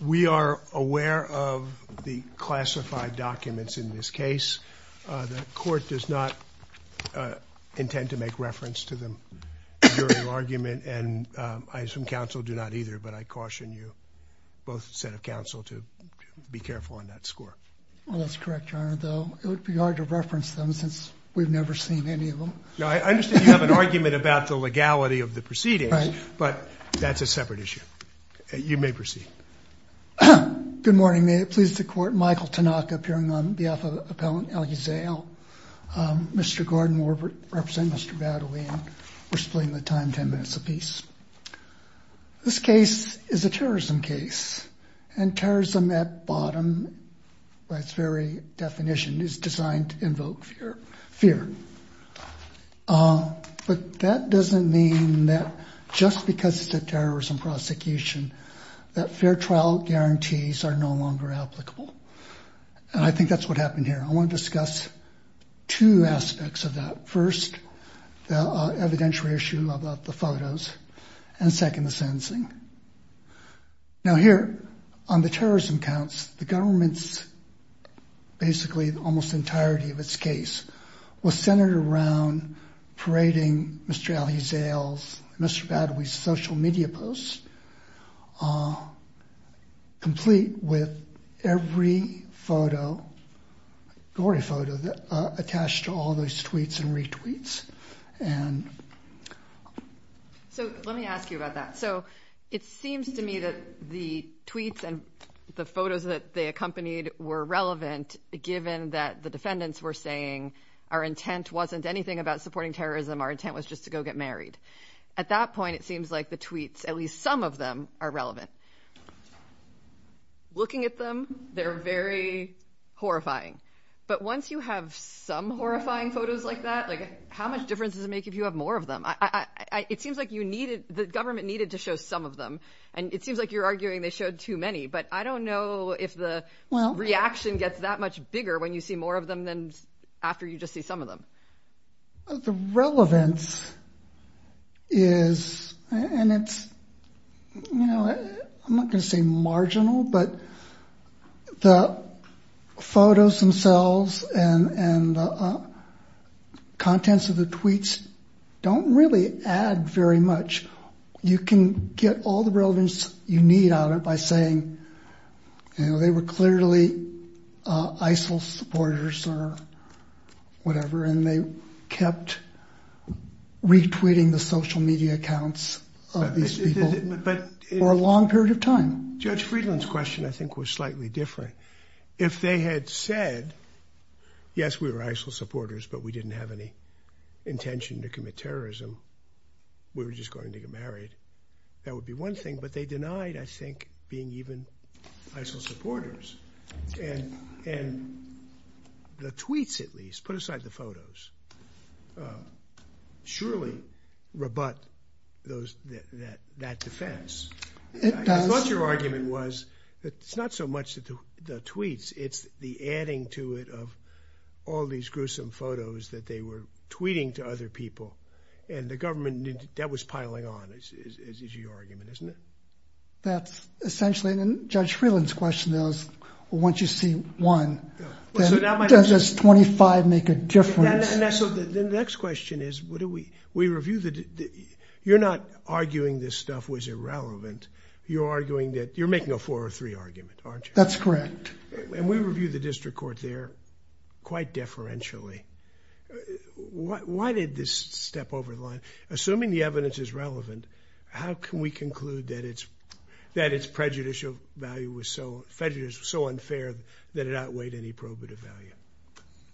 We are aware of the classified documents in this case. The court does not intend to make reference to them during argument and I assume counsel do not either, but I caution you both set of counsel to be careful on that score. Well, that's correct, Your Honor, though it No, I understand you have an argument about the legality of the proceedings, but that's a separate issue. You may proceed. Good morning. May it please the court, Michael Tanaka, appearing on behalf of Appellant Elhuzayel. Mr. Gordon will represent Mr. Battley and we're splitting the time ten minutes apiece. This case is a terrorism case and terrorism at bottom by its very definition is designed to invoke fear. But that doesn't mean that just because it's a terrorism prosecution that fair trial guarantees are no longer applicable. And I think that's what happened here. I want to discuss two aspects of that. First, the evidentiary issue about the photos and second, the sensing. Now here on the terrorism counts, the government's basically almost entirety of its case was centered around parading Mr. Elhuzayel's, Mr. Battley's social media posts are complete with every photo, gory photo attached to all those tweets and retweets. And so let me ask you about that. So it seems to me that the tweets and the photos that they accompanied were relevant, given that the defendants were saying our intent wasn't anything about supporting terrorism. Our intent was just to go get married. At that point, it seems like the tweets, at least some of them are relevant. Looking at them, they're very horrifying. But once you have some horrifying photos like that, like how much difference does it make if you have more of them? It seems like you needed the government needed to show some of them. And it seems like you're arguing they showed too many. But I don't know if the reaction gets that much bigger when you see more of them than after you just see some of them. The relevance is, and it's, you know, I'm not gonna say marginal, but the photos themselves and the contents of the tweets don't really add very much. You can get all the relevance you need out of it by saying, you know, they were clearly ISIL supporters or whatever. And they kept retweeting the social media accounts of these people for a long period of time. I thought your argument was that it's not so much the tweets, it's the adding to it of all these gruesome photos that they were tweeting to other people. And the government that was piling on is your argument, isn't it? That's essentially, and Judge Freeland's question is, once you see one, does 25 make a difference? So the next question is, what do we, we review the, you're not arguing this stuff was irrelevant. You're arguing that you're making a four or three argument, aren't you? That's correct. And we review the district court there quite deferentially. Why did this step over the line? Assuming the evidence is relevant, how can we conclude that it's prejudicial value was so unfair that it outweighed any probative value?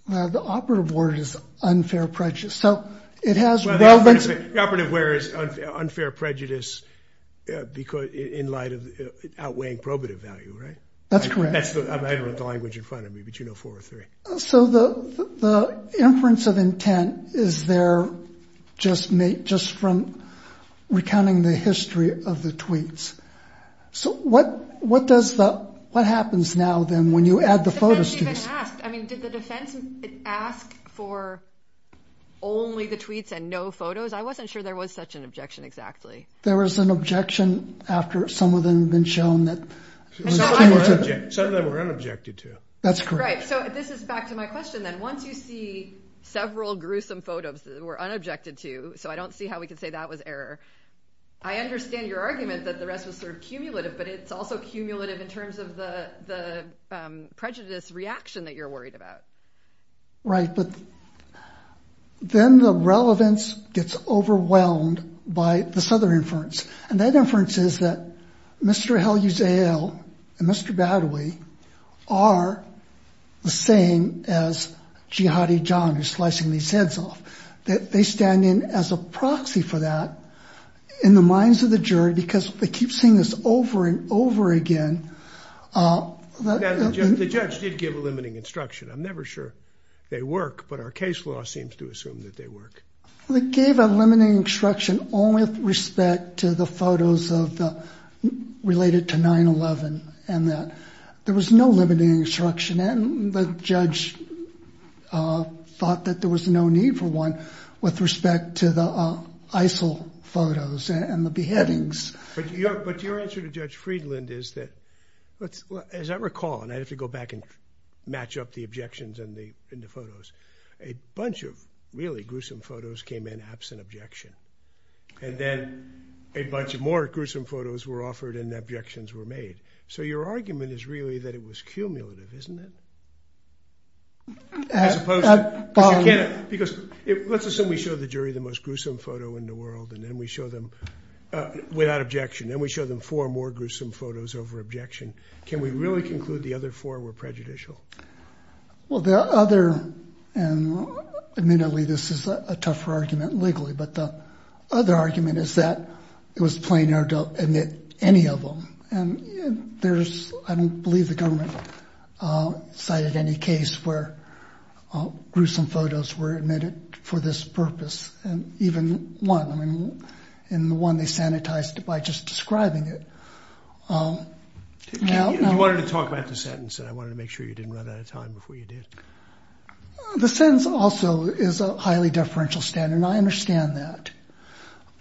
The operative word is unfair prejudice. So it has relevance. The operative word is unfair prejudice in light of outweighing probative value, right? That's the language in front of me, but you know, four or three. So the inference of intent is there just from recounting the history of the tweets. So what does the, what happens now then when you add the photos to this? I mean, did the defense ask for only the tweets and no photos? I wasn't sure there was such an objection exactly. There was an objection after some of them have been shown that some of them were unobjected to. That's correct. So this is back to my question. Then once you see several gruesome photos that were unobjected to, so I don't see how we can say that was error. I understand your argument that the rest was sort of cumulative, but it's also cumulative in terms of the prejudice reaction that you're worried about. Right. But then the relevance gets overwhelmed by this other inference. And that inference is that Mr. Hell, you say, oh, Mr. Badawi are the same as Jihadi. John is slicing these heads off. They stand in as a proxy for that in the minds of the jury, because they keep seeing this over and over again. The judge did give a limiting instruction. I'm never sure they work, but our case law seems to assume that they work. They gave a limiting instruction only with respect to the photos of the related to 9-11 and that there was no limiting instruction. And the judge thought that there was no need for one with respect to the ISIL photos and the beheadings. But your answer to Judge Friedland is that, as I recall, and I have to go back and match up the objections and the photos, a bunch of really gruesome photos came in absent objection. And then a bunch of more gruesome photos were offered and objections were made. So your argument is really that it was cumulative, isn't it? Because let's assume we show the jury the most gruesome photo in the world and then we show them without objection and we show them four more gruesome photos over objection. Can we really conclude the other four were prejudicial? Well, the other and admittedly, this is a tougher argument legally, but the other argument is that it was plainer to admit any of them. And there's I don't believe the government cited any case where gruesome photos were admitted for this purpose. And even one in the one they sanitized by just describing it. You wanted to talk about the sentence and I wanted to make sure you didn't run out of time before you did. The sentence also is a highly deferential standard. I understand that.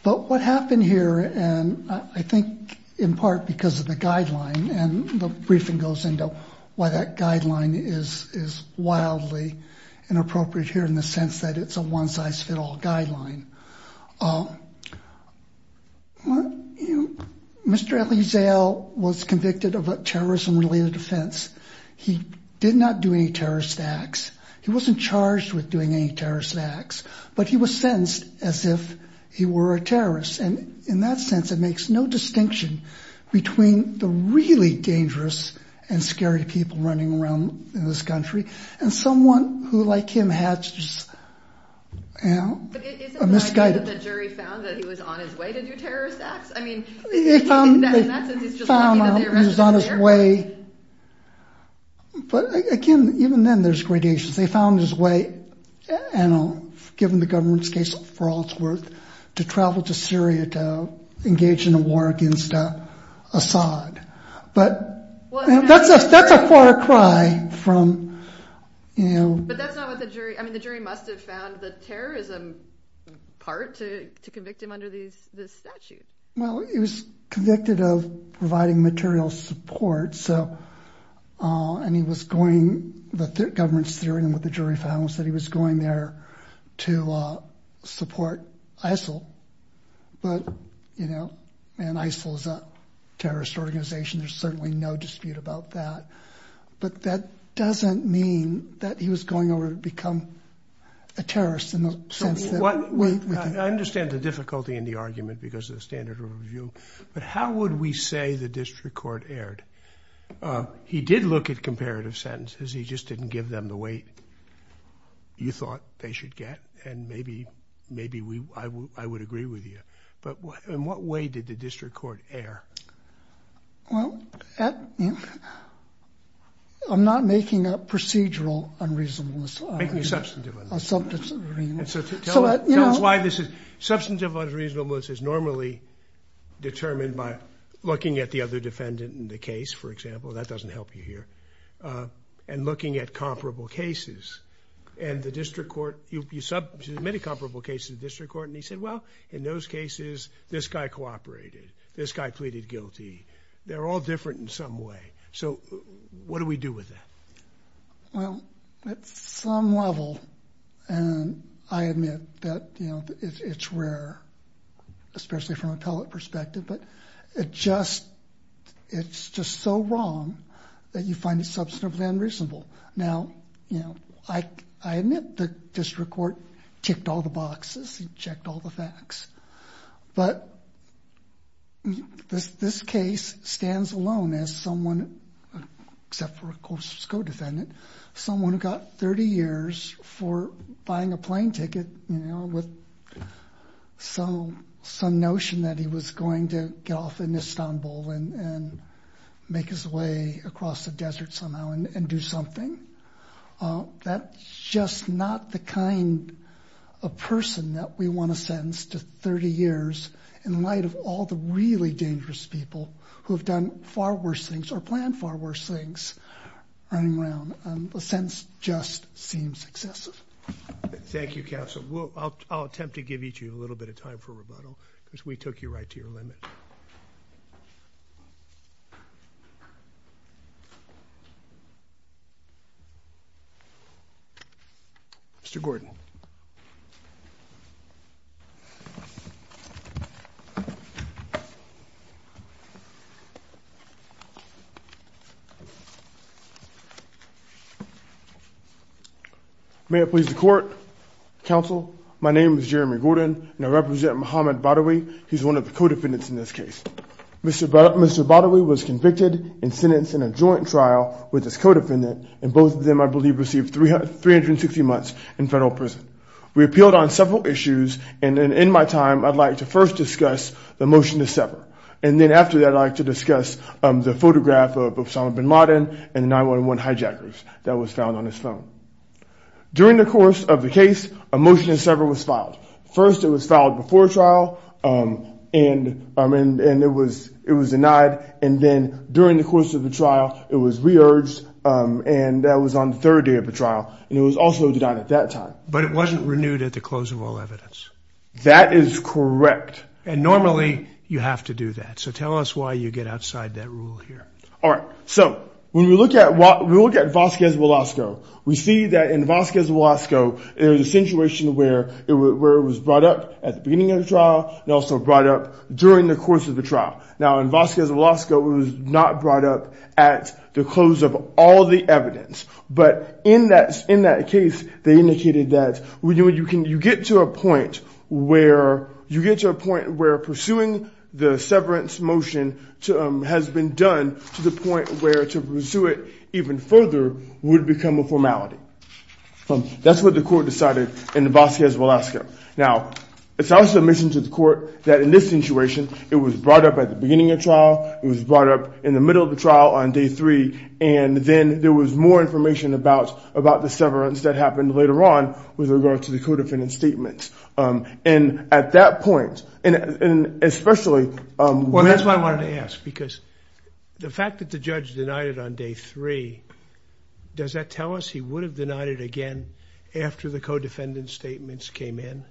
But what happened here, and I think in part because of the guideline and the briefing goes into why that guideline is is wildly inappropriate here in the sense that it's a one size fit all guideline. Well, you know, Mr. Lee's al was convicted of a terrorism related offense. He did not do any terrorist acts. He wasn't charged with doing any terrorist acts, but he was sentenced as if he were a terrorist. And in that sense, it makes no distinction between the really dangerous and scary people running around in this country and someone who, like him, had just. The jury found that he was on his way to do terrorist acts. I mean, in that sense, he's just on his way. But again, even then there's gradations. They found his way and given the government's case for all it's worth to travel to Syria to engage in a war against Assad. But that's a that's a far cry from, you know, but that's not what the jury. I mean, the jury must have found the terrorism part to to convict him under these this statute. Well, he was convicted of providing material support. So and he was going the government's theory and what the jury found was that he was going there to support ISIL. But, you know, and ISIL is a terrorist organization. There's certainly no dispute about that. But that doesn't mean that he was going over to become a terrorist in the sense that. I understand the difficulty in the argument because of the standard of review. But how would we say the district court erred? He did look at comparative sentences. Because he just didn't give them the weight you thought they should get. And maybe maybe I would agree with you. But in what way did the district court err? Well, I'm not making a procedural unreasonableness. Making a substantive unreasonable. Tell us why this is. Substantive unreasonableness is normally determined by looking at the other defendant in the case, for example. That doesn't help you here. And looking at comparable cases. And the district court, you submit a comparable case to the district court. And he said, well, in those cases, this guy cooperated. This guy pleaded guilty. They're all different in some way. So what do we do with that? Well, at some level, and I admit that, you know, it's rare, especially from a pellet perspective. But it's just so wrong that you find it substantively unreasonable. Now, you know, I admit the district court ticked all the boxes and checked all the facts. But this case stands alone as someone, except for, of course, his co-defendant, someone who got 30 years for buying a plane ticket, you know, with some notion that he was going to get off in Istanbul and make his way across the desert somehow and do something. That's just not the kind of person that we want to sentence to 30 years in light of all the really dangerous people who have done far worse things or planned far worse things running around. The sentence just seems excessive. Thank you, counsel. I'll attempt to give each of you a little bit of time for rebuttal because we took you right to your limit. Thank you. Mr. Gordon. May it please the court. Counsel, my name is Jeremy Gordon, and I represent Muhammad Badawi. He's one of the co-defendants in this case. Mr. Badawi was convicted and sentenced in a joint trial with his co-defendant. And both of them, I believe, received 360 months in federal prison. We appealed on several issues. And in my time, I'd like to first discuss the motion to sever. And then after that, I'd like to discuss the photograph of Osama bin Laden and the 9-1-1 hijackers that was found on his phone. First, it was filed before trial, and it was denied. And then during the course of the trial, it was re-urged, and that was on the third day of the trial. And it was also denied at that time. But it wasn't renewed at the close of all evidence. That is correct. And normally, you have to do that. So tell us why you get outside that rule here. All right. So when we look at Vasquez Velasco, we see that in Vasquez Velasco, there was a situation where it was brought up at the beginning of the trial and also brought up during the course of the trial. Now, in Vasquez Velasco, it was not brought up at the close of all the evidence. But in that case, they indicated that you get to a point where you get to a point where pursuing the severance motion has been done to the point where to pursue it even further would become a formality. That's what the court decided in the Vasquez Velasco. Now, it's also a mission to the court that in this situation, it was brought up at the beginning of trial, it was brought up in the middle of the trial on day three, and then there was more information about the severance that happened later on with regard to the co-defendant's statements. And at that point, and especially— Well, that's what I wanted to ask, because the fact that the judge denied it on day three, does that tell us he would have denied it again after the co-defendant's statements came in?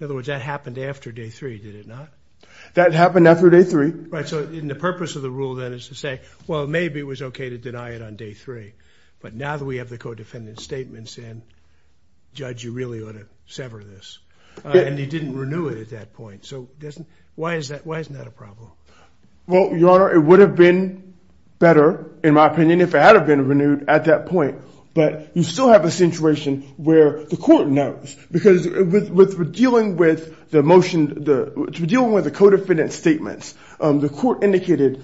In other words, that happened after day three, did it not? That happened after day three. Right, so the purpose of the rule then is to say, well, maybe it was okay to deny it on day three, but now that we have the co-defendant's statements in, judge, you really ought to sever this. And he didn't renew it at that point. So why isn't that a problem? Well, Your Honor, it would have been better, in my opinion, if it had been renewed at that point. But you still have a situation where the court knows, because with dealing with the motion— dealing with the co-defendant's statements, the court indicated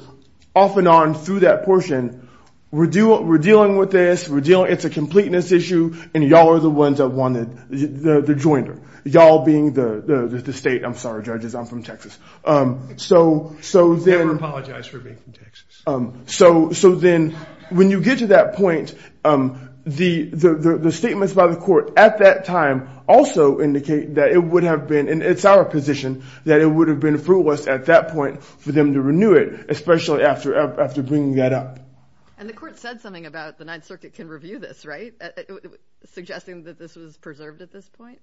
off and on through that portion, we're dealing with this, it's a completeness issue, and y'all are the ones that wanted the joinder. Y'all being the state—I'm sorry, judges, I'm from Texas. Never apologize for being from Texas. So then when you get to that point, the statements by the court at that time also indicate that it would have been— and it's our position that it would have been fruitless at that point for them to renew it, especially after bringing that up. And the court said something about the Ninth Circuit can review this, right? Suggesting that this was preserved at this point?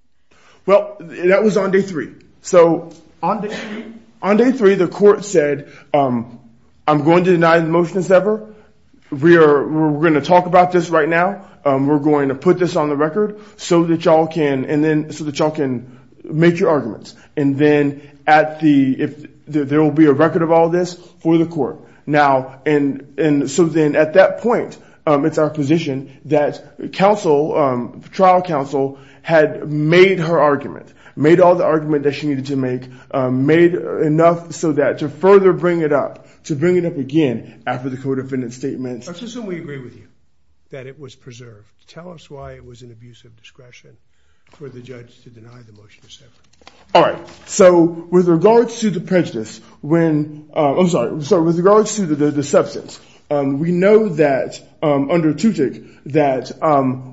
Well, that was on day three. So on day three, the court said, I'm going to deny the motion as ever. We're going to talk about this right now. We're going to put this on the record so that y'all can make your arguments. And then there will be a record of all this for the court. And so then at that point, it's our position that trial counsel had made her argument, made all the argument that she needed to make, made enough so that to further bring it up, to bring it up again after the co-defendant's statement. Let's assume we agree with you that it was preserved. Tell us why it was an abuse of discretion for the judge to deny the motion as ever. All right. So with regards to the prejudice when, I'm sorry, so with regards to the substance, we know that under Tutick that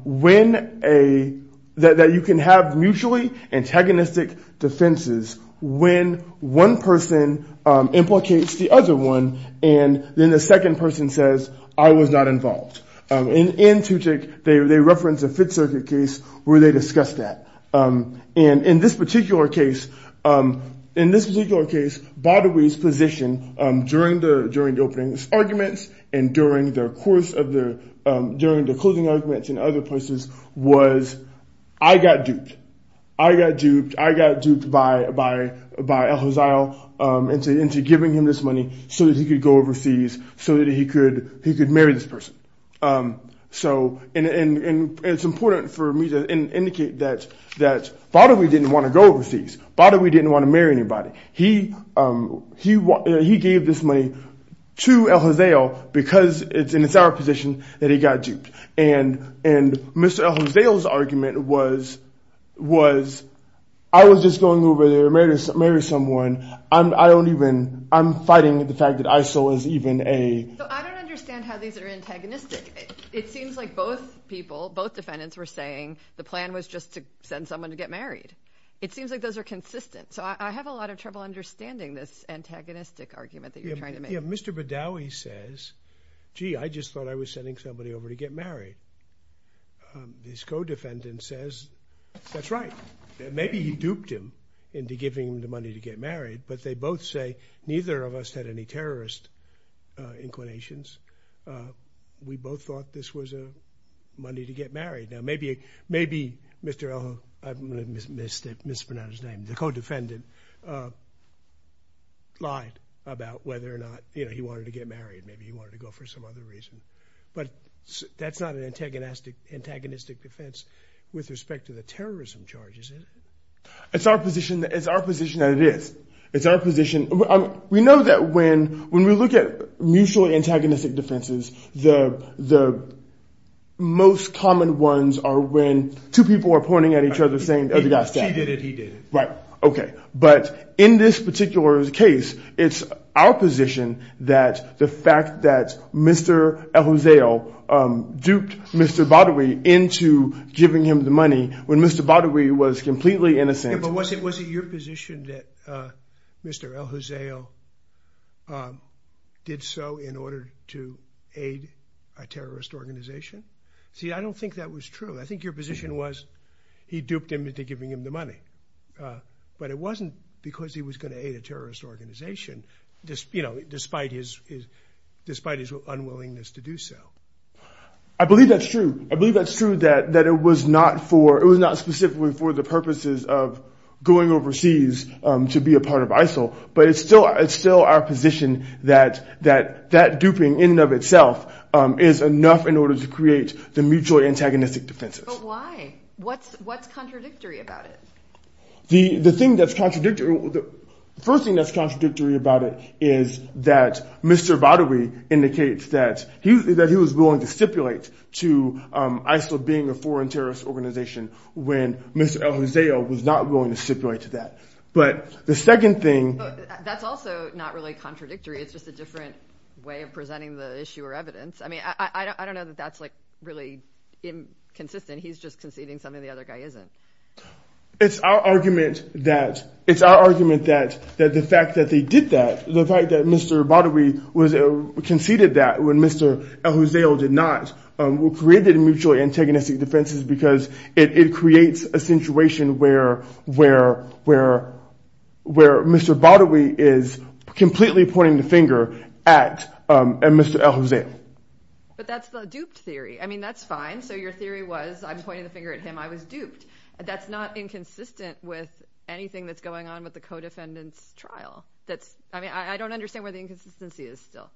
when a, that you can have mutually antagonistic defenses when one person implicates the other one and then the second person says, I was not involved. In Tutick, they referenced a Fifth Circuit case where they discussed that. And in this particular case, in this particular case, Baudouin's position during the opening arguments and during the course of the, during the closing arguments and other places was, I got duped. I got duped, I got duped by Al-Hazal into giving him this money so that he could go overseas, so that he could marry this person. So it's important for me to indicate that Baudouin didn't want to go overseas. Baudouin didn't want to marry anybody. He gave this money to Al-Hazal because it's in his position that he got duped. And Mr. Al-Hazal's argument was, I was just going over there to marry someone. I don't even, I'm fighting the fact that ISIL is even a. So I don't understand how these are antagonistic. It seems like both people, both defendants were saying the plan was just to send someone to get married. It seems like those are consistent. So I have a lot of trouble understanding this antagonistic argument that you're trying to make. Yeah, Mr. Baudouin says, gee, I just thought I was sending somebody over to get married. His co-defendant says, that's right. Maybe he duped him into giving him the money to get married, but they both say neither of us had any terrorist inclinations. We both thought this was money to get married. Now maybe Mr. Al-Hazal, I mispronounced his name, the co-defendant lied about whether or not he wanted to get married. Maybe he wanted to go for some other reason. But that's not an antagonistic defense with respect to the terrorism charges, is it? It's our position that it is. It's our position. We know that when we look at mutually antagonistic defenses, the most common ones are when two people are pointing at each other saying, oh, the guy's dead. He did it, he did it. Right, okay. But in this particular case, it's our position that the fact that Mr. Al-Hazal duped Mr. Baudouin into giving him the money, when Mr. Baudouin was completely innocent. But was it your position that Mr. Al-Hazal did so in order to aid a terrorist organization? See, I don't think that was true. I think your position was he duped him into giving him the money. But it wasn't because he was going to aid a terrorist organization, you know, despite his unwillingness to do so. I believe that's true. I believe that's true that it was not specifically for the purposes of going overseas to be a part of ISIL. But it's still our position that that duping in and of itself is enough in order to create the mutually antagonistic defenses. But why? What's contradictory about it? The thing that's contradictory, the first thing that's contradictory about it is that Mr. Baudouin indicates that he was willing to stipulate to ISIL being a foreign terrorist organization when Mr. Al-Hazal was not willing to stipulate to that. But the second thing. That's also not really contradictory. It's just a different way of presenting the issue or evidence. I mean, I don't know that that's like really inconsistent. He's just conceding something the other guy isn't. It's our argument that it's our argument that that the fact that they did that, the fact that Mr. Baudouin was conceded that when Mr. Al-Hazal did not, created a mutually antagonistic defenses because it creates a situation where Mr. Baudouin is completely pointing the finger at Mr. Al-Hazal. But that's the duped theory. I mean, that's fine. So your theory was I'm pointing the finger at him. I was duped. That's not inconsistent with anything that's going on with the co-defendants trial. That's I mean, I don't understand where the inconsistency is still.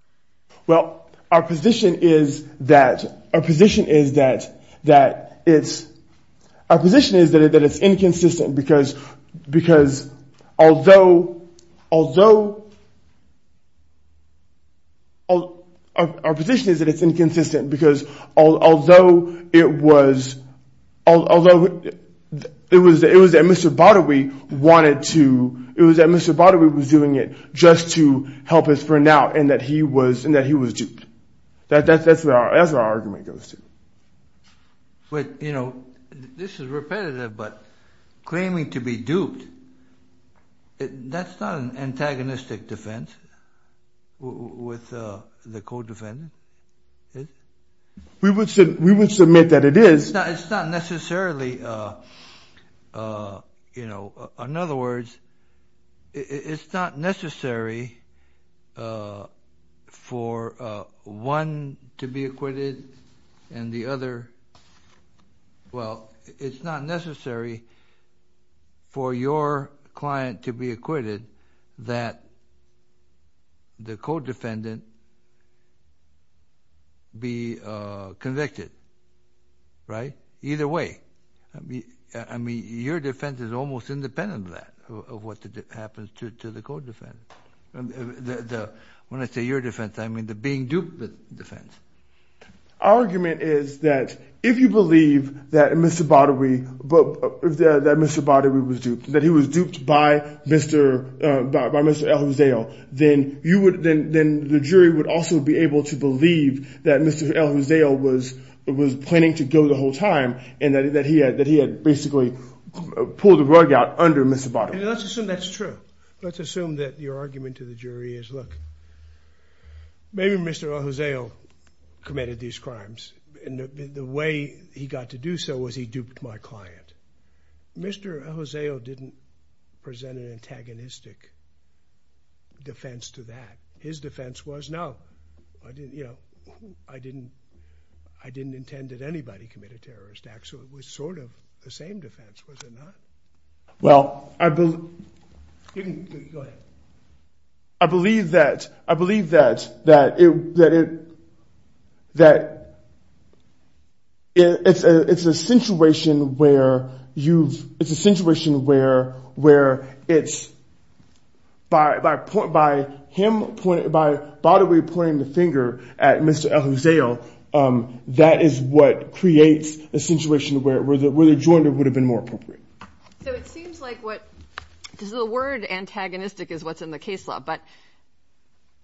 Well, our position is that our position is that that it's our position is that it's inconsistent because because although although. It was it was that Mr. Baudouin wanted to it was that Mr. Baudouin was doing it just to help us for now and that he was and that he was duped. That's that's that's our argument goes to. But, you know, this is repetitive, but claiming to be duped. With the co-defendant. We would we would submit that it is. It's not necessarily, you know, in other words, it's not necessary for one to be acquitted and the other. Well, it's not necessary. For your client to be acquitted, that. The co-defendant. Be convicted. Right. Either way. I mean, your defense is almost independent of that, of what happens to the co-defendant. When I say your defense, I mean, the being duped defense. Our argument is that if you believe that Mr. Baudouin, that Mr. Baudouin was duped, that he was duped by Mr. El-Hussein, then you would then the jury would also be able to believe that Mr. El-Hussein was it was planning to go the whole time and that he had that he had basically pulled the rug out under Mr. Baudouin. So that's true. Let's assume that your argument to the jury is look. Maybe Mr. El-Hussein committed these crimes and the way he got to do so was he duped my client. Mr. El-Hussein didn't present an antagonistic defense to that. His defense was no, I didn't, you know, I didn't, I didn't intend that anybody committed terrorist acts. So it was sort of the same defense. Was it not? Well, I believe. I believe that I believe that, that, that, that. It's a it's a situation where you've it's a situation where where it's. By, by, by him, by Baudouin pointing the finger at Mr. El-Hussein. That is what creates a situation where the where the joint would have been more appropriate. So it seems like what is the word antagonistic is what's in the case law. But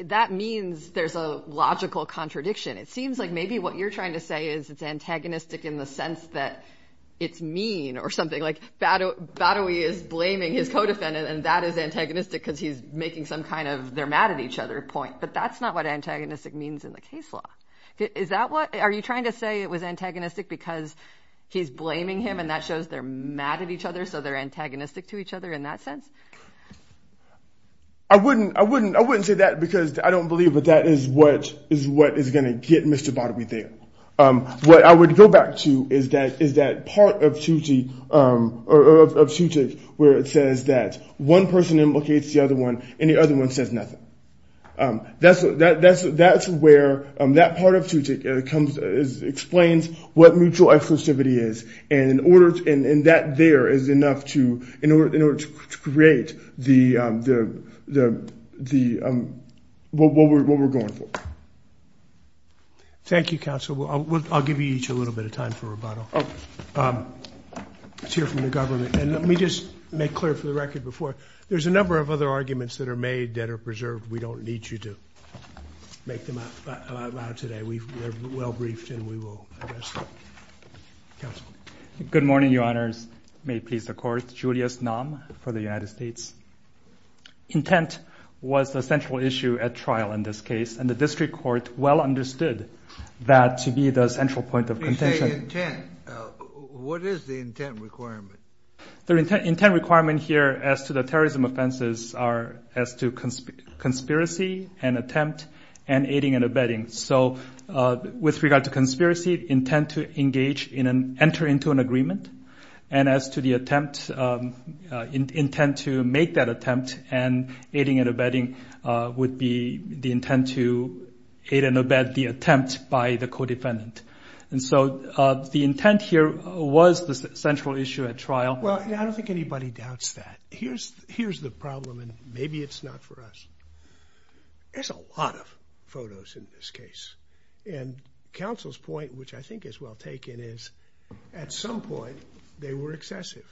that means there's a logical contradiction. It seems like maybe what you're trying to say is it's antagonistic in the sense that it's mean or something like that. Baudouin is blaming his co-defendant and that is antagonistic because he's making some kind of they're mad at each other point. But that's not what antagonistic means in the case law. Is that what are you trying to say? It was antagonistic because he's blaming him and that shows they're mad at each other. So they're antagonistic to each other in that sense. I wouldn't I wouldn't I wouldn't say that because I don't believe that that is what is what is going to get Mr. Baudouin there. What I would go back to is that is that part of TUTIC where it says that one person implicates the other one and the other one says nothing. That's that that's that's where that part of TUTIC comes explains what mutual exclusivity is. And in order and that there is enough to in order in order to create the the the what we're going for. Thank you, counsel. I'll give you each a little bit of time for rebuttal to hear from the government. And let me just make clear for the record before there's a number of other arguments that are made that are preserved. We don't need you to make them out today. We are well briefed and we will. Good morning, your honors. May peace accord. For the United States. Intent was the central issue at trial in this case. And the district court well understood that to be the central point of intent. What is the intent requirement? The intent requirement here as to the terrorism offenses are as to conspiracy and attempt and aiding and abetting. So with regard to conspiracy intent to engage in an enter into an agreement. And as to the attempt intent to make that attempt and aiding and abetting would be the intent to aid and abet the attempt by the codependent. And so the intent here was the central issue at trial. Well, I don't think anybody doubts that. Here's here's the problem. And maybe it's not for us. There's a lot of photos in this case. And counsel's point, which I think is well taken, is at some point they were excessive,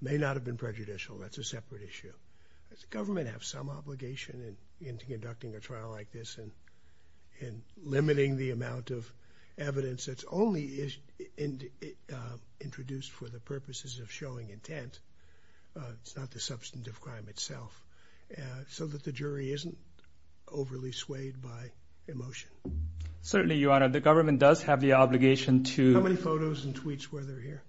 may not have been prejudicial. That's a separate issue. Does the government have some obligation in conducting a trial like this and in limiting the amount of evidence? It's only is introduced for the purposes of showing intent. It's not the substantive crime itself. So that the jury isn't overly swayed by emotion. Certainly, Your Honor, the government does have the obligation to many photos and tweets where they're here.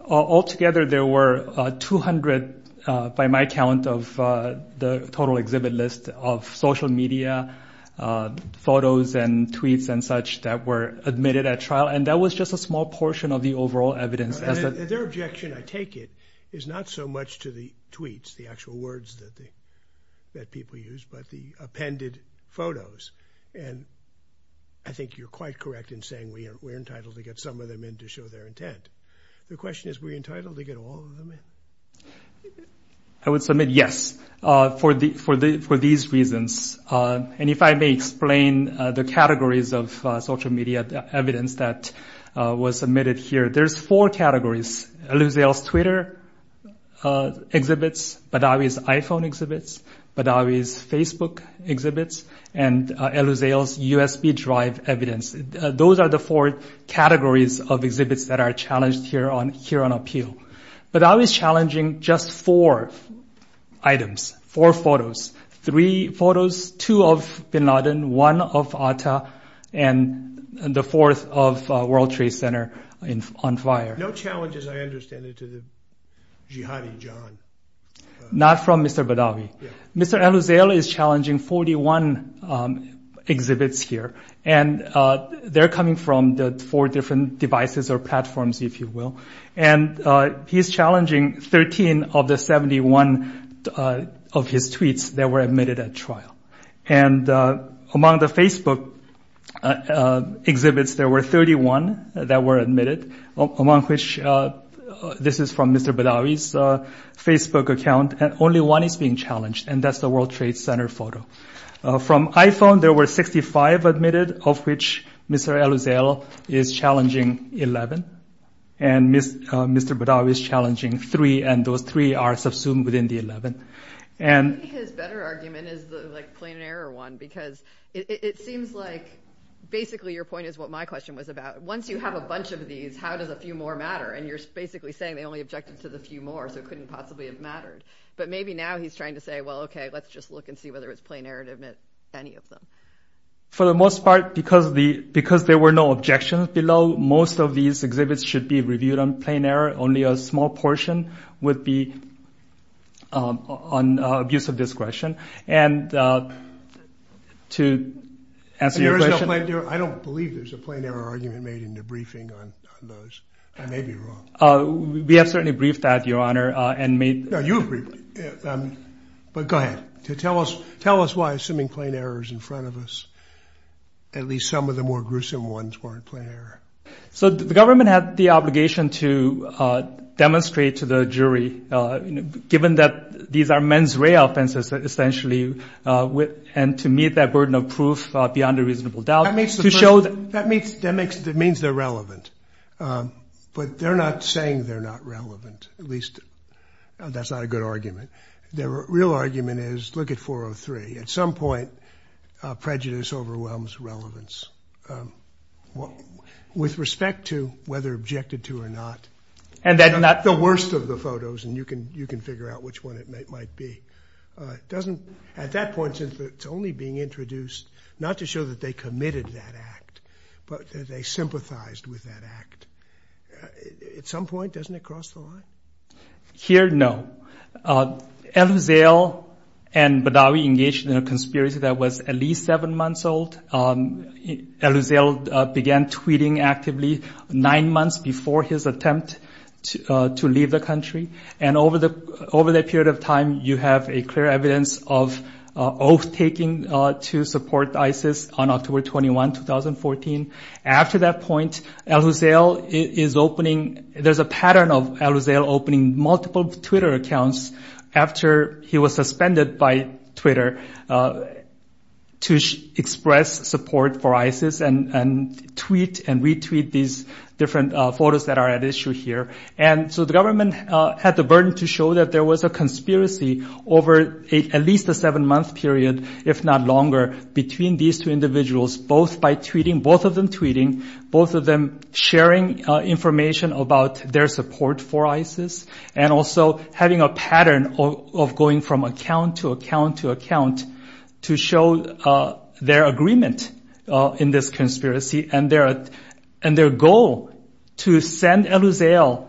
Altogether, there were 200 by my count of the total exhibit list of social media photos and tweets and such that were admitted at trial. And that was just a small portion of the overall evidence. Their objection, I take it, is not so much to the tweets, the actual words that people use, but the appended photos. And I think you're quite correct in saying we are entitled to get some of them in to show their intent. The question is, were you entitled to get all of them in? I would submit yes for these reasons. And if I may explain the categories of social media evidence that was submitted here. There's four categories. Eleuzeo's Twitter exhibits, Badawi's iPhone exhibits, Badawi's Facebook exhibits, and Eleuzeo's USB drive evidence. Those are the four categories of exhibits that are challenged here on appeal. Badawi's challenging just four items, four photos. Three photos, two of Bin Laden, one of Atta, and the fourth of World Trade Center on fire. No challenges, I understand, to the Jihadi John. Not from Mr. Badawi. Mr. Eleuzeo is challenging 41 exhibits here. And they're coming from the four different devices or platforms, if you will. And he's challenging 13 of the 71 of his tweets that were admitted at trial. And among the Facebook exhibits, there were 31 that were admitted, among which this is from Mr. Badawi's Facebook account. And only one is being challenged, and that's the World Trade Center photo. From iPhone, there were 65 admitted, of which Mr. Eleuzeo is challenging 11. And Mr. Badawi is challenging three, and those three are subsumed within the 11. I think his better argument is the, like, plain error one, because it seems like basically your point is what my question was about. Once you have a bunch of these, how does a few more matter? And you're basically saying they only objected to the few more, so it couldn't possibly have mattered. But maybe now he's trying to say, well, okay, let's just look and see whether it's plain error to admit any of them. For the most part, because there were no objections below, most of these exhibits should be reviewed on plain error. Only a small portion would be on abuse of discretion. And to answer your question. I don't believe there's a plain error argument made in the briefing on those. I may be wrong. We have certainly briefed that, Your Honor, and made. No, you agreed. But go ahead. Tell us why, assuming plain error is in front of us. At least some of the more gruesome ones weren't plain error. So the government had the obligation to demonstrate to the jury, given that these are men's ray offenses, essentially, and to meet that burden of proof beyond a reasonable doubt. That means they're relevant. But they're not saying they're not relevant. At least, that's not a good argument. The real argument is, look at 403. At some point, prejudice overwhelms relevance. With respect to whether objected to or not. The worst of the photos, and you can figure out which one it might be. At that point, it's only being introduced not to show that they committed that act, but that they sympathized with that act. At some point, doesn't it cross the line? Here, no. El Uziel and Badawi engaged in a conspiracy that was at least seven months old. El Uziel began tweeting actively nine months before his attempt to leave the country. And over that period of time, you have a clear evidence of oath-taking to support ISIS on October 21, 2014. After that point, El Uziel is opening, there's a pattern of El Uziel opening multiple Twitter accounts, after he was suspended by Twitter, to express support for ISIS and tweet and retweet these different photos that are at issue here. And so the government had the burden to show that there was a conspiracy over at least a seven-month period, if not longer, between these two individuals, both by tweeting, both of them tweeting, both of them sharing information about their support for ISIS. And also having a pattern of going from account to account to account to show their agreement in this conspiracy and their goal to send El Uziel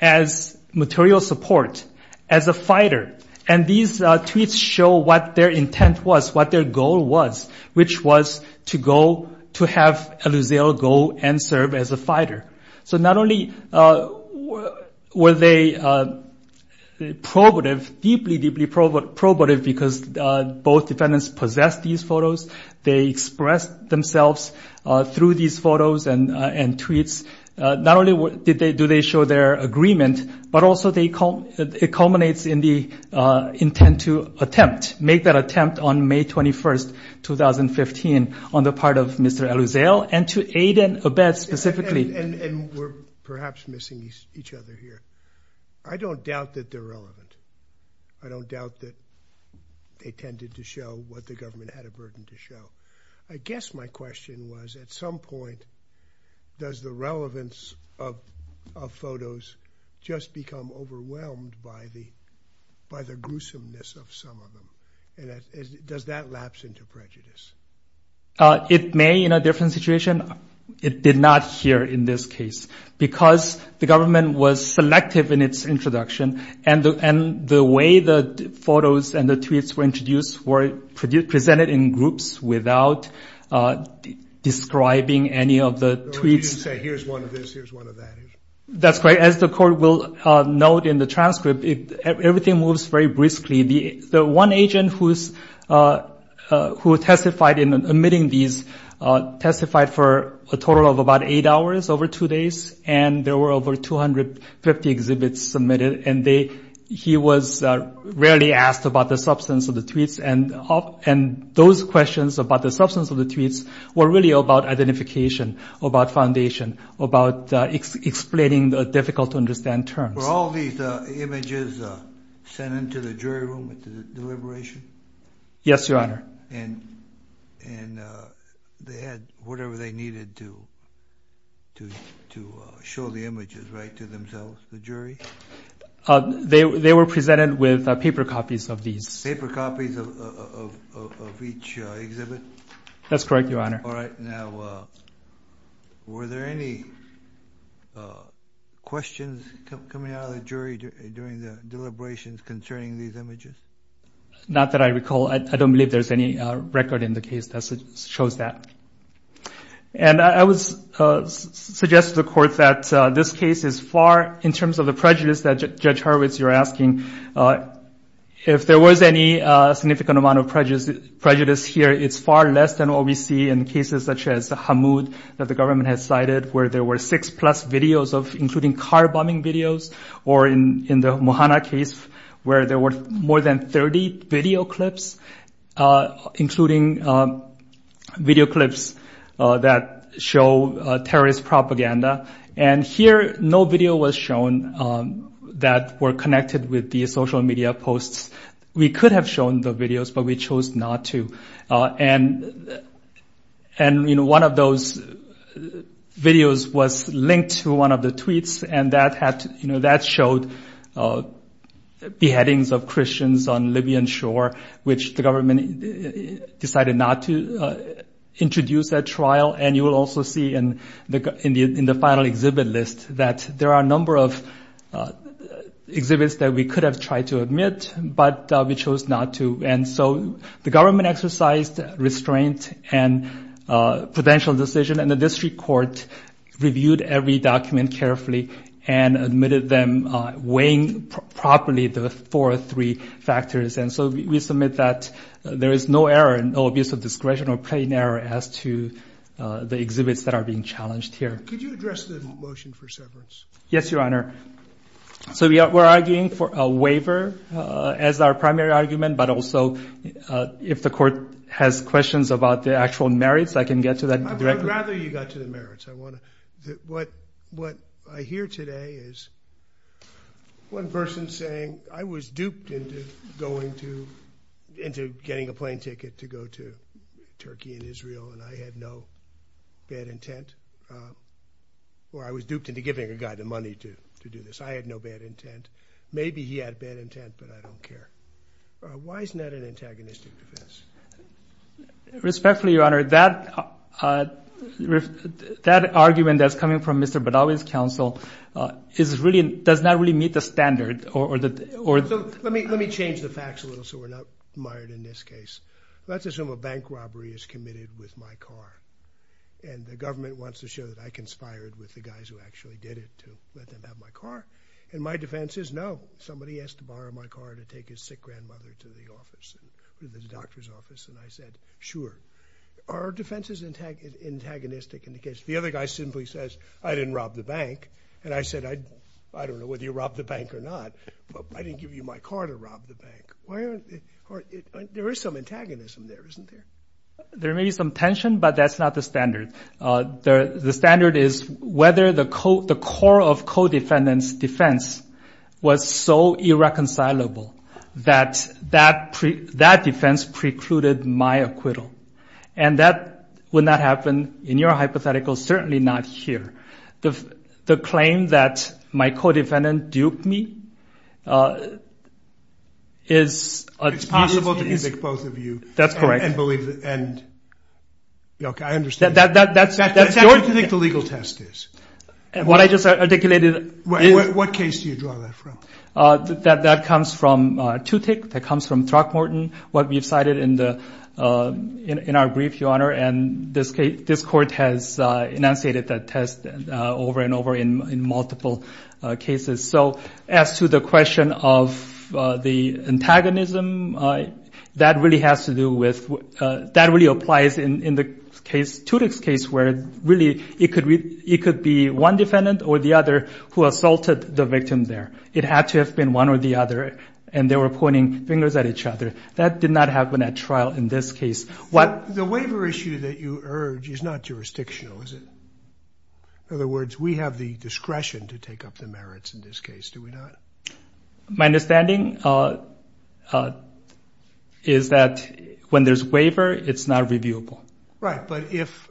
as material support, as a fighter. And these tweets show what their intent was, what their goal was, which was to have El Uziel go and serve as a fighter. So not only were they probative, deeply, deeply probative, because both defendants possessed these photos, they expressed themselves through these photos and tweets. Not only do they show their agreement, but also it culminates in the intent to attempt, make that attempt on May 21st, 2015, on the part of Mr. El Uziel and to aid and abet specifically. And we're perhaps missing each other here. I don't doubt that they're relevant. I don't doubt that they tended to show what the government had a burden to show. I guess my question was, at some point, does the relevance of photos just become overwhelmed by the gruesomeness of some of them? And does that lapse into prejudice? It may in a different situation. It did not here in this case, because the government was selective in its introduction. And the way the photos and the tweets were introduced were presented in groups without describing any of the tweets. You didn't say, here's one of this, here's one of that. That's right. As the court will note in the transcript, everything moves very briskly. The one agent who testified in omitting these testified for a total of about eight hours over two days. And there were over 250 exhibits submitted. And he was rarely asked about the substance of the tweets. And those questions about the substance of the tweets were really about identification, about foundation, about explaining the difficult to understand terms. Were all these images sent into the jury room at the deliberation? Yes, Your Honor. And they had whatever they needed to show the images, right, to themselves, the jury? They were presented with paper copies of these. Paper copies of each exhibit? That's correct, Your Honor. All right. Now, were there any questions coming out of the jury during the deliberations concerning these images? Not that I recall. I don't believe there's any record in the case that shows that. And I would suggest to the court that this case is far, in terms of the prejudice that Judge Hurwitz, you're asking, if there was any significant amount of prejudice here, it's far less than what we see in cases such as Hamoud that the government has cited, where there were six-plus videos, including car bombing videos, or in the Muhanna case, where there were more than 30 video clips, including video clips that show terrorist propaganda. And here, no video was shown that were connected with the social media posts. We could have shown the videos, but we chose not to. And one of those videos was linked to one of the tweets, and that showed beheadings of Christians on Libyan shore, which the government decided not to introduce at trial. And you will also see in the final exhibit list that there are a number of exhibits that we could have tried to admit, but we chose not to. And so the government exercised restraint and prudential decision, and the district court reviewed every document carefully and admitted them weighing properly the four or three factors. And so we submit that there is no error and no abuse of discretion or plain error as to the exhibits that are being challenged here. Could you address the motion for severance? Yes, Your Honor. So we're arguing for a waiver as our primary argument, but also if the court has questions about the actual merits, I can get to that directly. I'd rather you got to the merits. What I hear today is one person saying, I was duped into going to – into getting a plane ticket to go to Turkey and Israel, and I had no bad intent. Or I was duped into giving a guy the money to do this. I had no bad intent. Maybe he had bad intent, but I don't care. Why isn't that an antagonistic defense? Respectfully, Your Honor, that argument that's coming from Mr. Badawi's counsel is really – does not really meet the standard or the – So let me change the facts a little so we're not mired in this case. Let's assume a bank robbery is committed with my car. And the government wants to show that I conspired with the guys who actually did it to let them have my car. And my defense is no. Somebody has to borrow my car to take his sick grandmother to the office, to the doctor's office. And I said, sure. Are our defenses antagonistic in the case? The other guy simply says, I didn't rob the bank. And I said, I don't know whether you robbed the bank or not, but I didn't give you my car to rob the bank. There is some antagonism there, isn't there? There may be some tension, but that's not the standard. The standard is whether the core of co-defendant's defense was so irreconcilable that that defense precluded my acquittal. And that would not happen in your hypothetical, certainly not here. The claim that my co-defendant duped me is a- It's possible to evict both of you. That's correct. And believe the end. I understand. That's your- That's what you think the legal test is. What I just articulated is- What case do you draw that from? That comes from Tutick. That comes from Throckmorton, what we've cited in our brief, Your Honor. And this court has enunciated that test over and over in multiple cases. So as to the question of the antagonism, that really has to do with- That really applies in the case, Tutick's case, where really it could be one defendant or the other who assaulted the victim there. It had to have been one or the other, and they were pointing fingers at each other. That did not happen at trial in this case. The waiver issue that you urge is not jurisdictional, is it? In other words, we have the discretion to take up the merits in this case, do we not? My understanding is that when there's a waiver, it's not reviewable. Right, but if-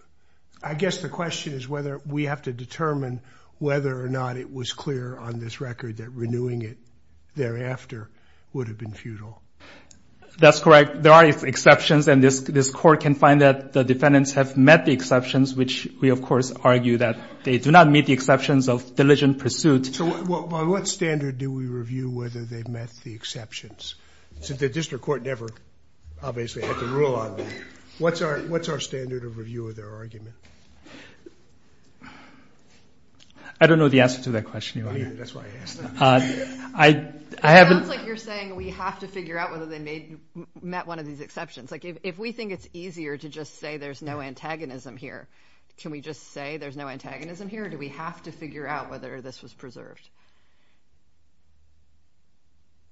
I guess the question is whether we have to determine whether or not it was clear on this record that renewing it thereafter would have been futile. That's correct. There are exceptions, and this court can find that the defendants have met the exceptions, which we, of course, argue that they do not meet the exceptions of diligent pursuit. So by what standard do we review whether they've met the exceptions? Since the district court never, obviously, had the rule on that. What's our standard of review of their argument? I don't know the answer to that question, Your Honor. Oh, yeah, that's why I asked. It sounds like you're saying we have to figure out whether they met one of these exceptions. If we think it's easier to just say there's no antagonism here, can we just say there's no antagonism here, or do we have to figure out whether this was preserved?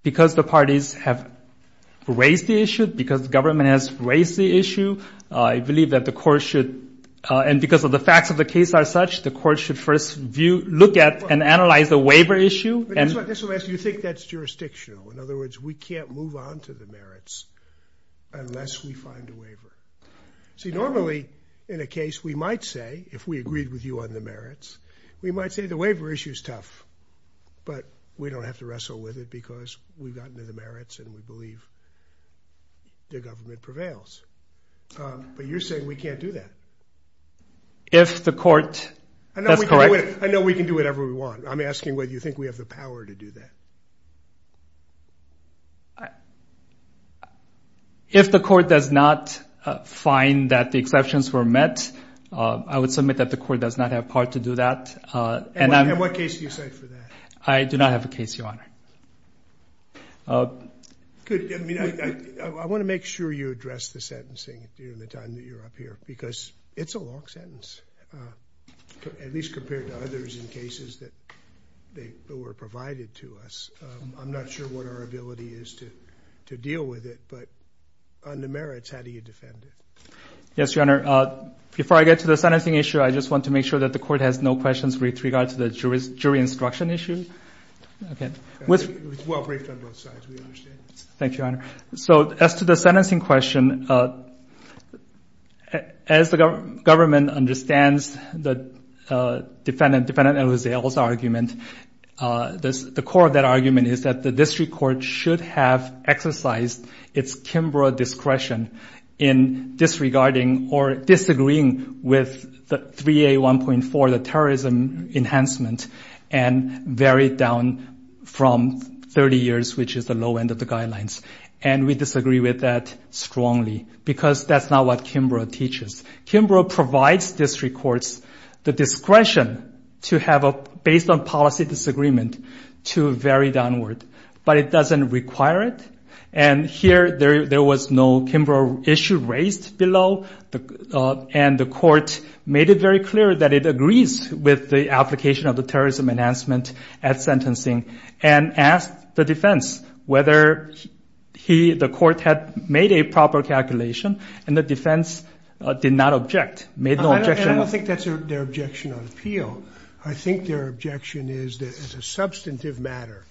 Because the parties have raised the issue, because the government has raised the issue, I believe that the court should, and because of the facts of the case are such, the court should first look at and analyze the waiver issue. You think that's jurisdictional. In other words, we can't move on to the merits unless we find a waiver. See, normally, in a case, we might say, if we agreed with you on the merits, we might say the waiver issue is tough, but we don't have to wrestle with it because we've gotten to the merits and we believe the government prevails. But you're saying we can't do that. If the court, that's correct. I know we can do whatever we want. I'm asking whether you think we have the power to do that. If the court does not find that the exceptions were met, I would submit that the court does not have power to do that. And what case do you cite for that? I do not have a case, Your Honor. Good. I want to make sure you address the sentencing during the time that you're up here because it's a long sentence, at least compared to others in cases that were provided to us. I'm not sure what our ability is to deal with it, but on the merits, how do you defend it? Yes, Your Honor. Before I get to the sentencing issue, I just want to make sure that the court has no questions with regard to the jury instruction issue. Okay. It was well briefed on both sides. We understand. Thank you, Your Honor. So as to the sentencing question, as the government understands the defendant, Defendant Elizalde's argument, the core of that argument is that the district court should have exercised its Kimbrough discretion in disregarding or disagreeing with the 3A1.4, the terrorism enhancement, and varied down from 30 years, which is the low end of the guidelines. And we disagree with that strongly because that's not what Kimbrough teaches. Kimbrough provides district courts the discretion to have a based on policy disagreement to vary downward, but it doesn't require it. And here there was no Kimbrough issue raised below, and the court made it very clear that it agrees with the application of the terrorism enhancement at sentencing and asked the defense whether the court had made a proper calculation, and the defense did not object, made no objection. I don't think that's their objection on appeal. I think their objection is that it's a substantive matter,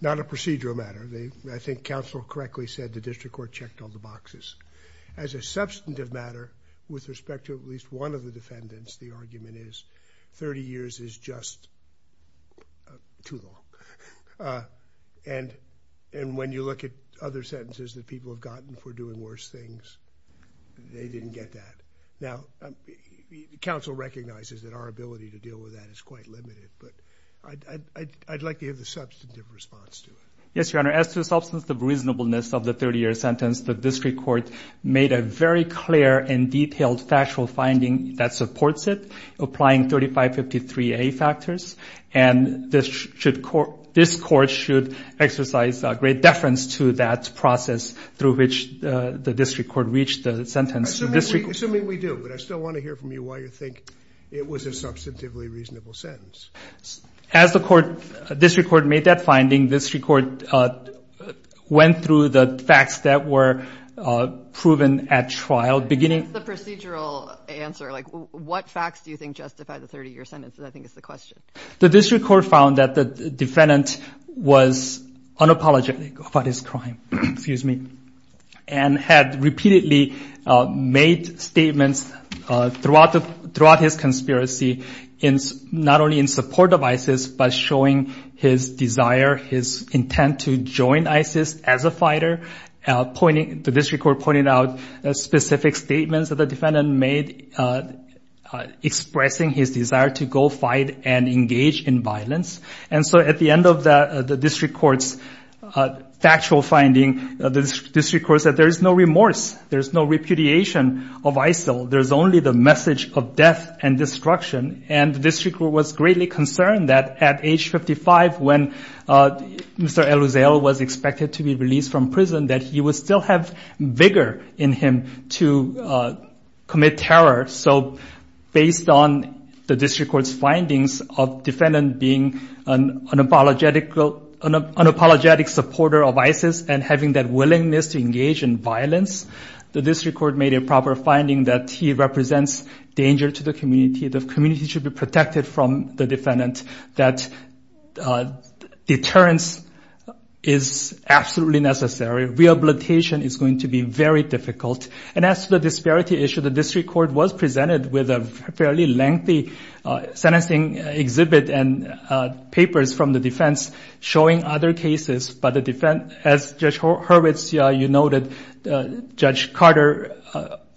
not a procedural matter. I think counsel correctly said the district court checked all the boxes. As a substantive matter, with respect to at least one of the defendants, the argument is 30 years is just too long. And when you look at other sentences that people have gotten for doing worse things, they didn't get that. Now, counsel recognizes that our ability to deal with that is quite limited, but I'd like to hear the substantive response to it. Yes, Your Honor, as to the substance of reasonableness of the 30-year sentence, the district court made a very clear and detailed factual finding that supports it, applying 3553A factors, and this court should exercise great deference to that process through which the district court reached the sentence. Assuming we do, but I still want to hear from you why you think it was a substantively reasonable sentence. As the district court made that finding, the district court went through the facts that were proven at trial. What's the procedural answer? What facts do you think justify the 30-year sentence is, I think, the question. The district court found that the defendant was unapologetic about his crime and had repeatedly made statements throughout his conspiracy, not only in support of ISIS, but showing his desire, his intent to join ISIS as a fighter. The district court pointed out specific statements that the defendant made, expressing his desire to go fight and engage in violence. And so at the end of the district court's factual finding, the district court said there is no remorse. There is no repudiation of ISIL. There is only the message of death and destruction. And the district court was greatly concerned that at age 55, when Mr. El Uziel was expected to be released from prison, that he would still have vigor in him to commit terror. So based on the district court's findings of defendant being an unapologetic supporter of ISIS and having that willingness to engage in violence, the district court made a proper finding that he represents danger to the community. The community should be protected from the defendant. That deterrence is absolutely necessary. Rehabilitation is going to be very difficult. And as to the disparity issue, the district court was presented with a fairly lengthy sentencing exhibit and papers from the defense showing other cases. But as Judge Hurwitz, you noted, Judge Carter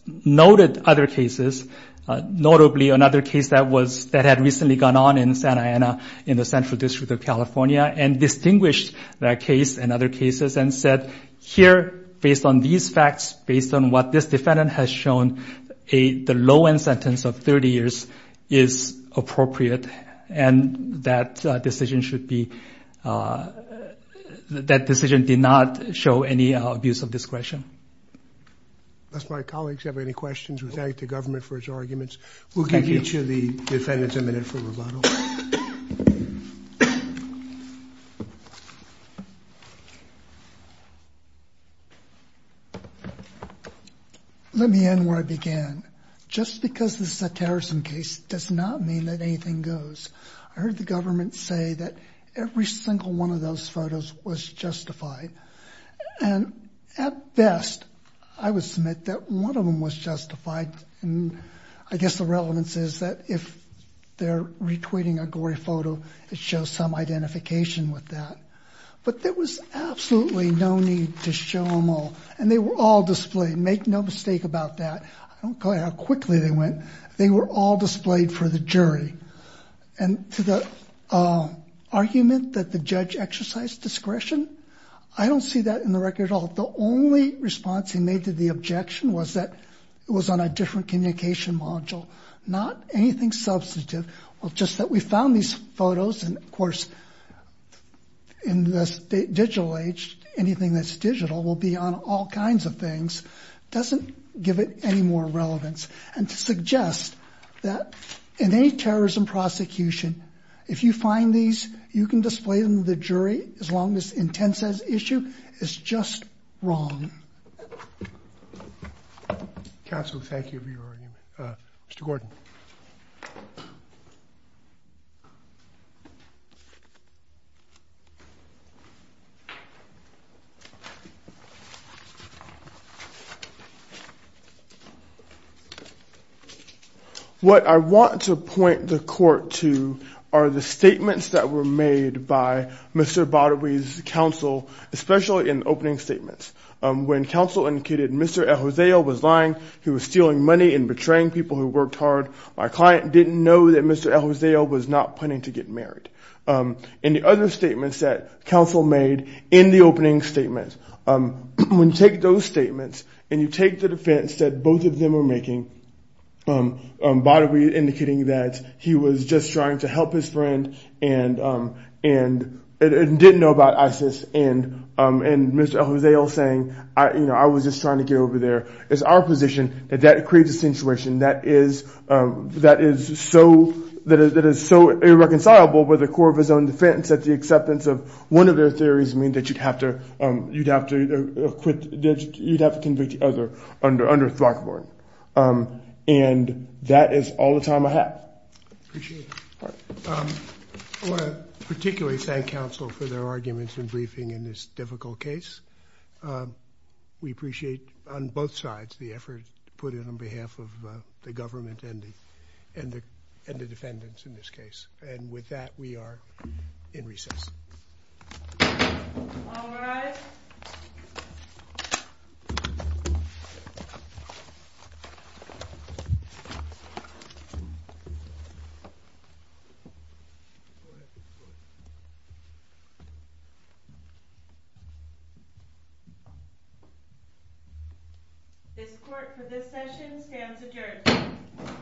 noted other cases, notably another case that had recently gone on in Santa Ana in the Central District of California, and distinguished that case and other cases and said, here, based on these facts, based on what this defendant has shown, the low-end sentence of 30 years is appropriate. And that decision should be – that decision did not show any abuse of discretion. Unless my colleagues have any questions, we thank the government for its arguments. We'll give each of the defendants a minute for rebuttal. Let me end where I began. Just because this is a terrorism case does not mean that anything goes. I heard the government say that every single one of those photos was justified. And at best, I would submit that one of them was justified. I guess the relevance is that if they're retweeting a gory photo, it shows some identification with that. But there was absolutely no need to show them all. And they were all displayed. Make no mistake about that. I don't care how quickly they went. They were all displayed for the jury. And to the argument that the judge exercised discretion, I don't see that in the record at all. The only response he made to the objection was that it was on a different communication module, not anything substantive. Well, just that we found these photos, and, of course, in this digital age, anything that's digital will be on all kinds of things, doesn't give it any more relevance. And to suggest that in any terrorism prosecution, if you find these, you can display them to the jury as long as intent says issue is just wrong. Counsel, thank you for your argument. Mr. Gordon. What I want to point the court to are the statements that were made by Mr. Badawi's counsel, especially in opening statements. When counsel indicated Mr. Ejozeo was lying, he was stealing money and betraying people who worked hard, my client didn't know that Mr. Ejozeo was not planning to get married. And the other statements that counsel made in the opening statements, when you take those statements and you take the defense that both of them are making, Badawi indicating that he was just trying to help his friend and didn't know about ISIS, and Mr. Ejozeo saying, I was just trying to get over there. It's our position that that creates a situation that is so irreconcilable with the core of his own defense that the acceptance of one of their theories means that you'd have to convict the other under Throckmorton. And that is all the time I have. Particularly thank counsel for their arguments and briefing in this difficult case. We appreciate on both sides the effort put in on behalf of the government and the defendants in this case. And with that, we are in recess. All rise. This court for this session stands adjourned.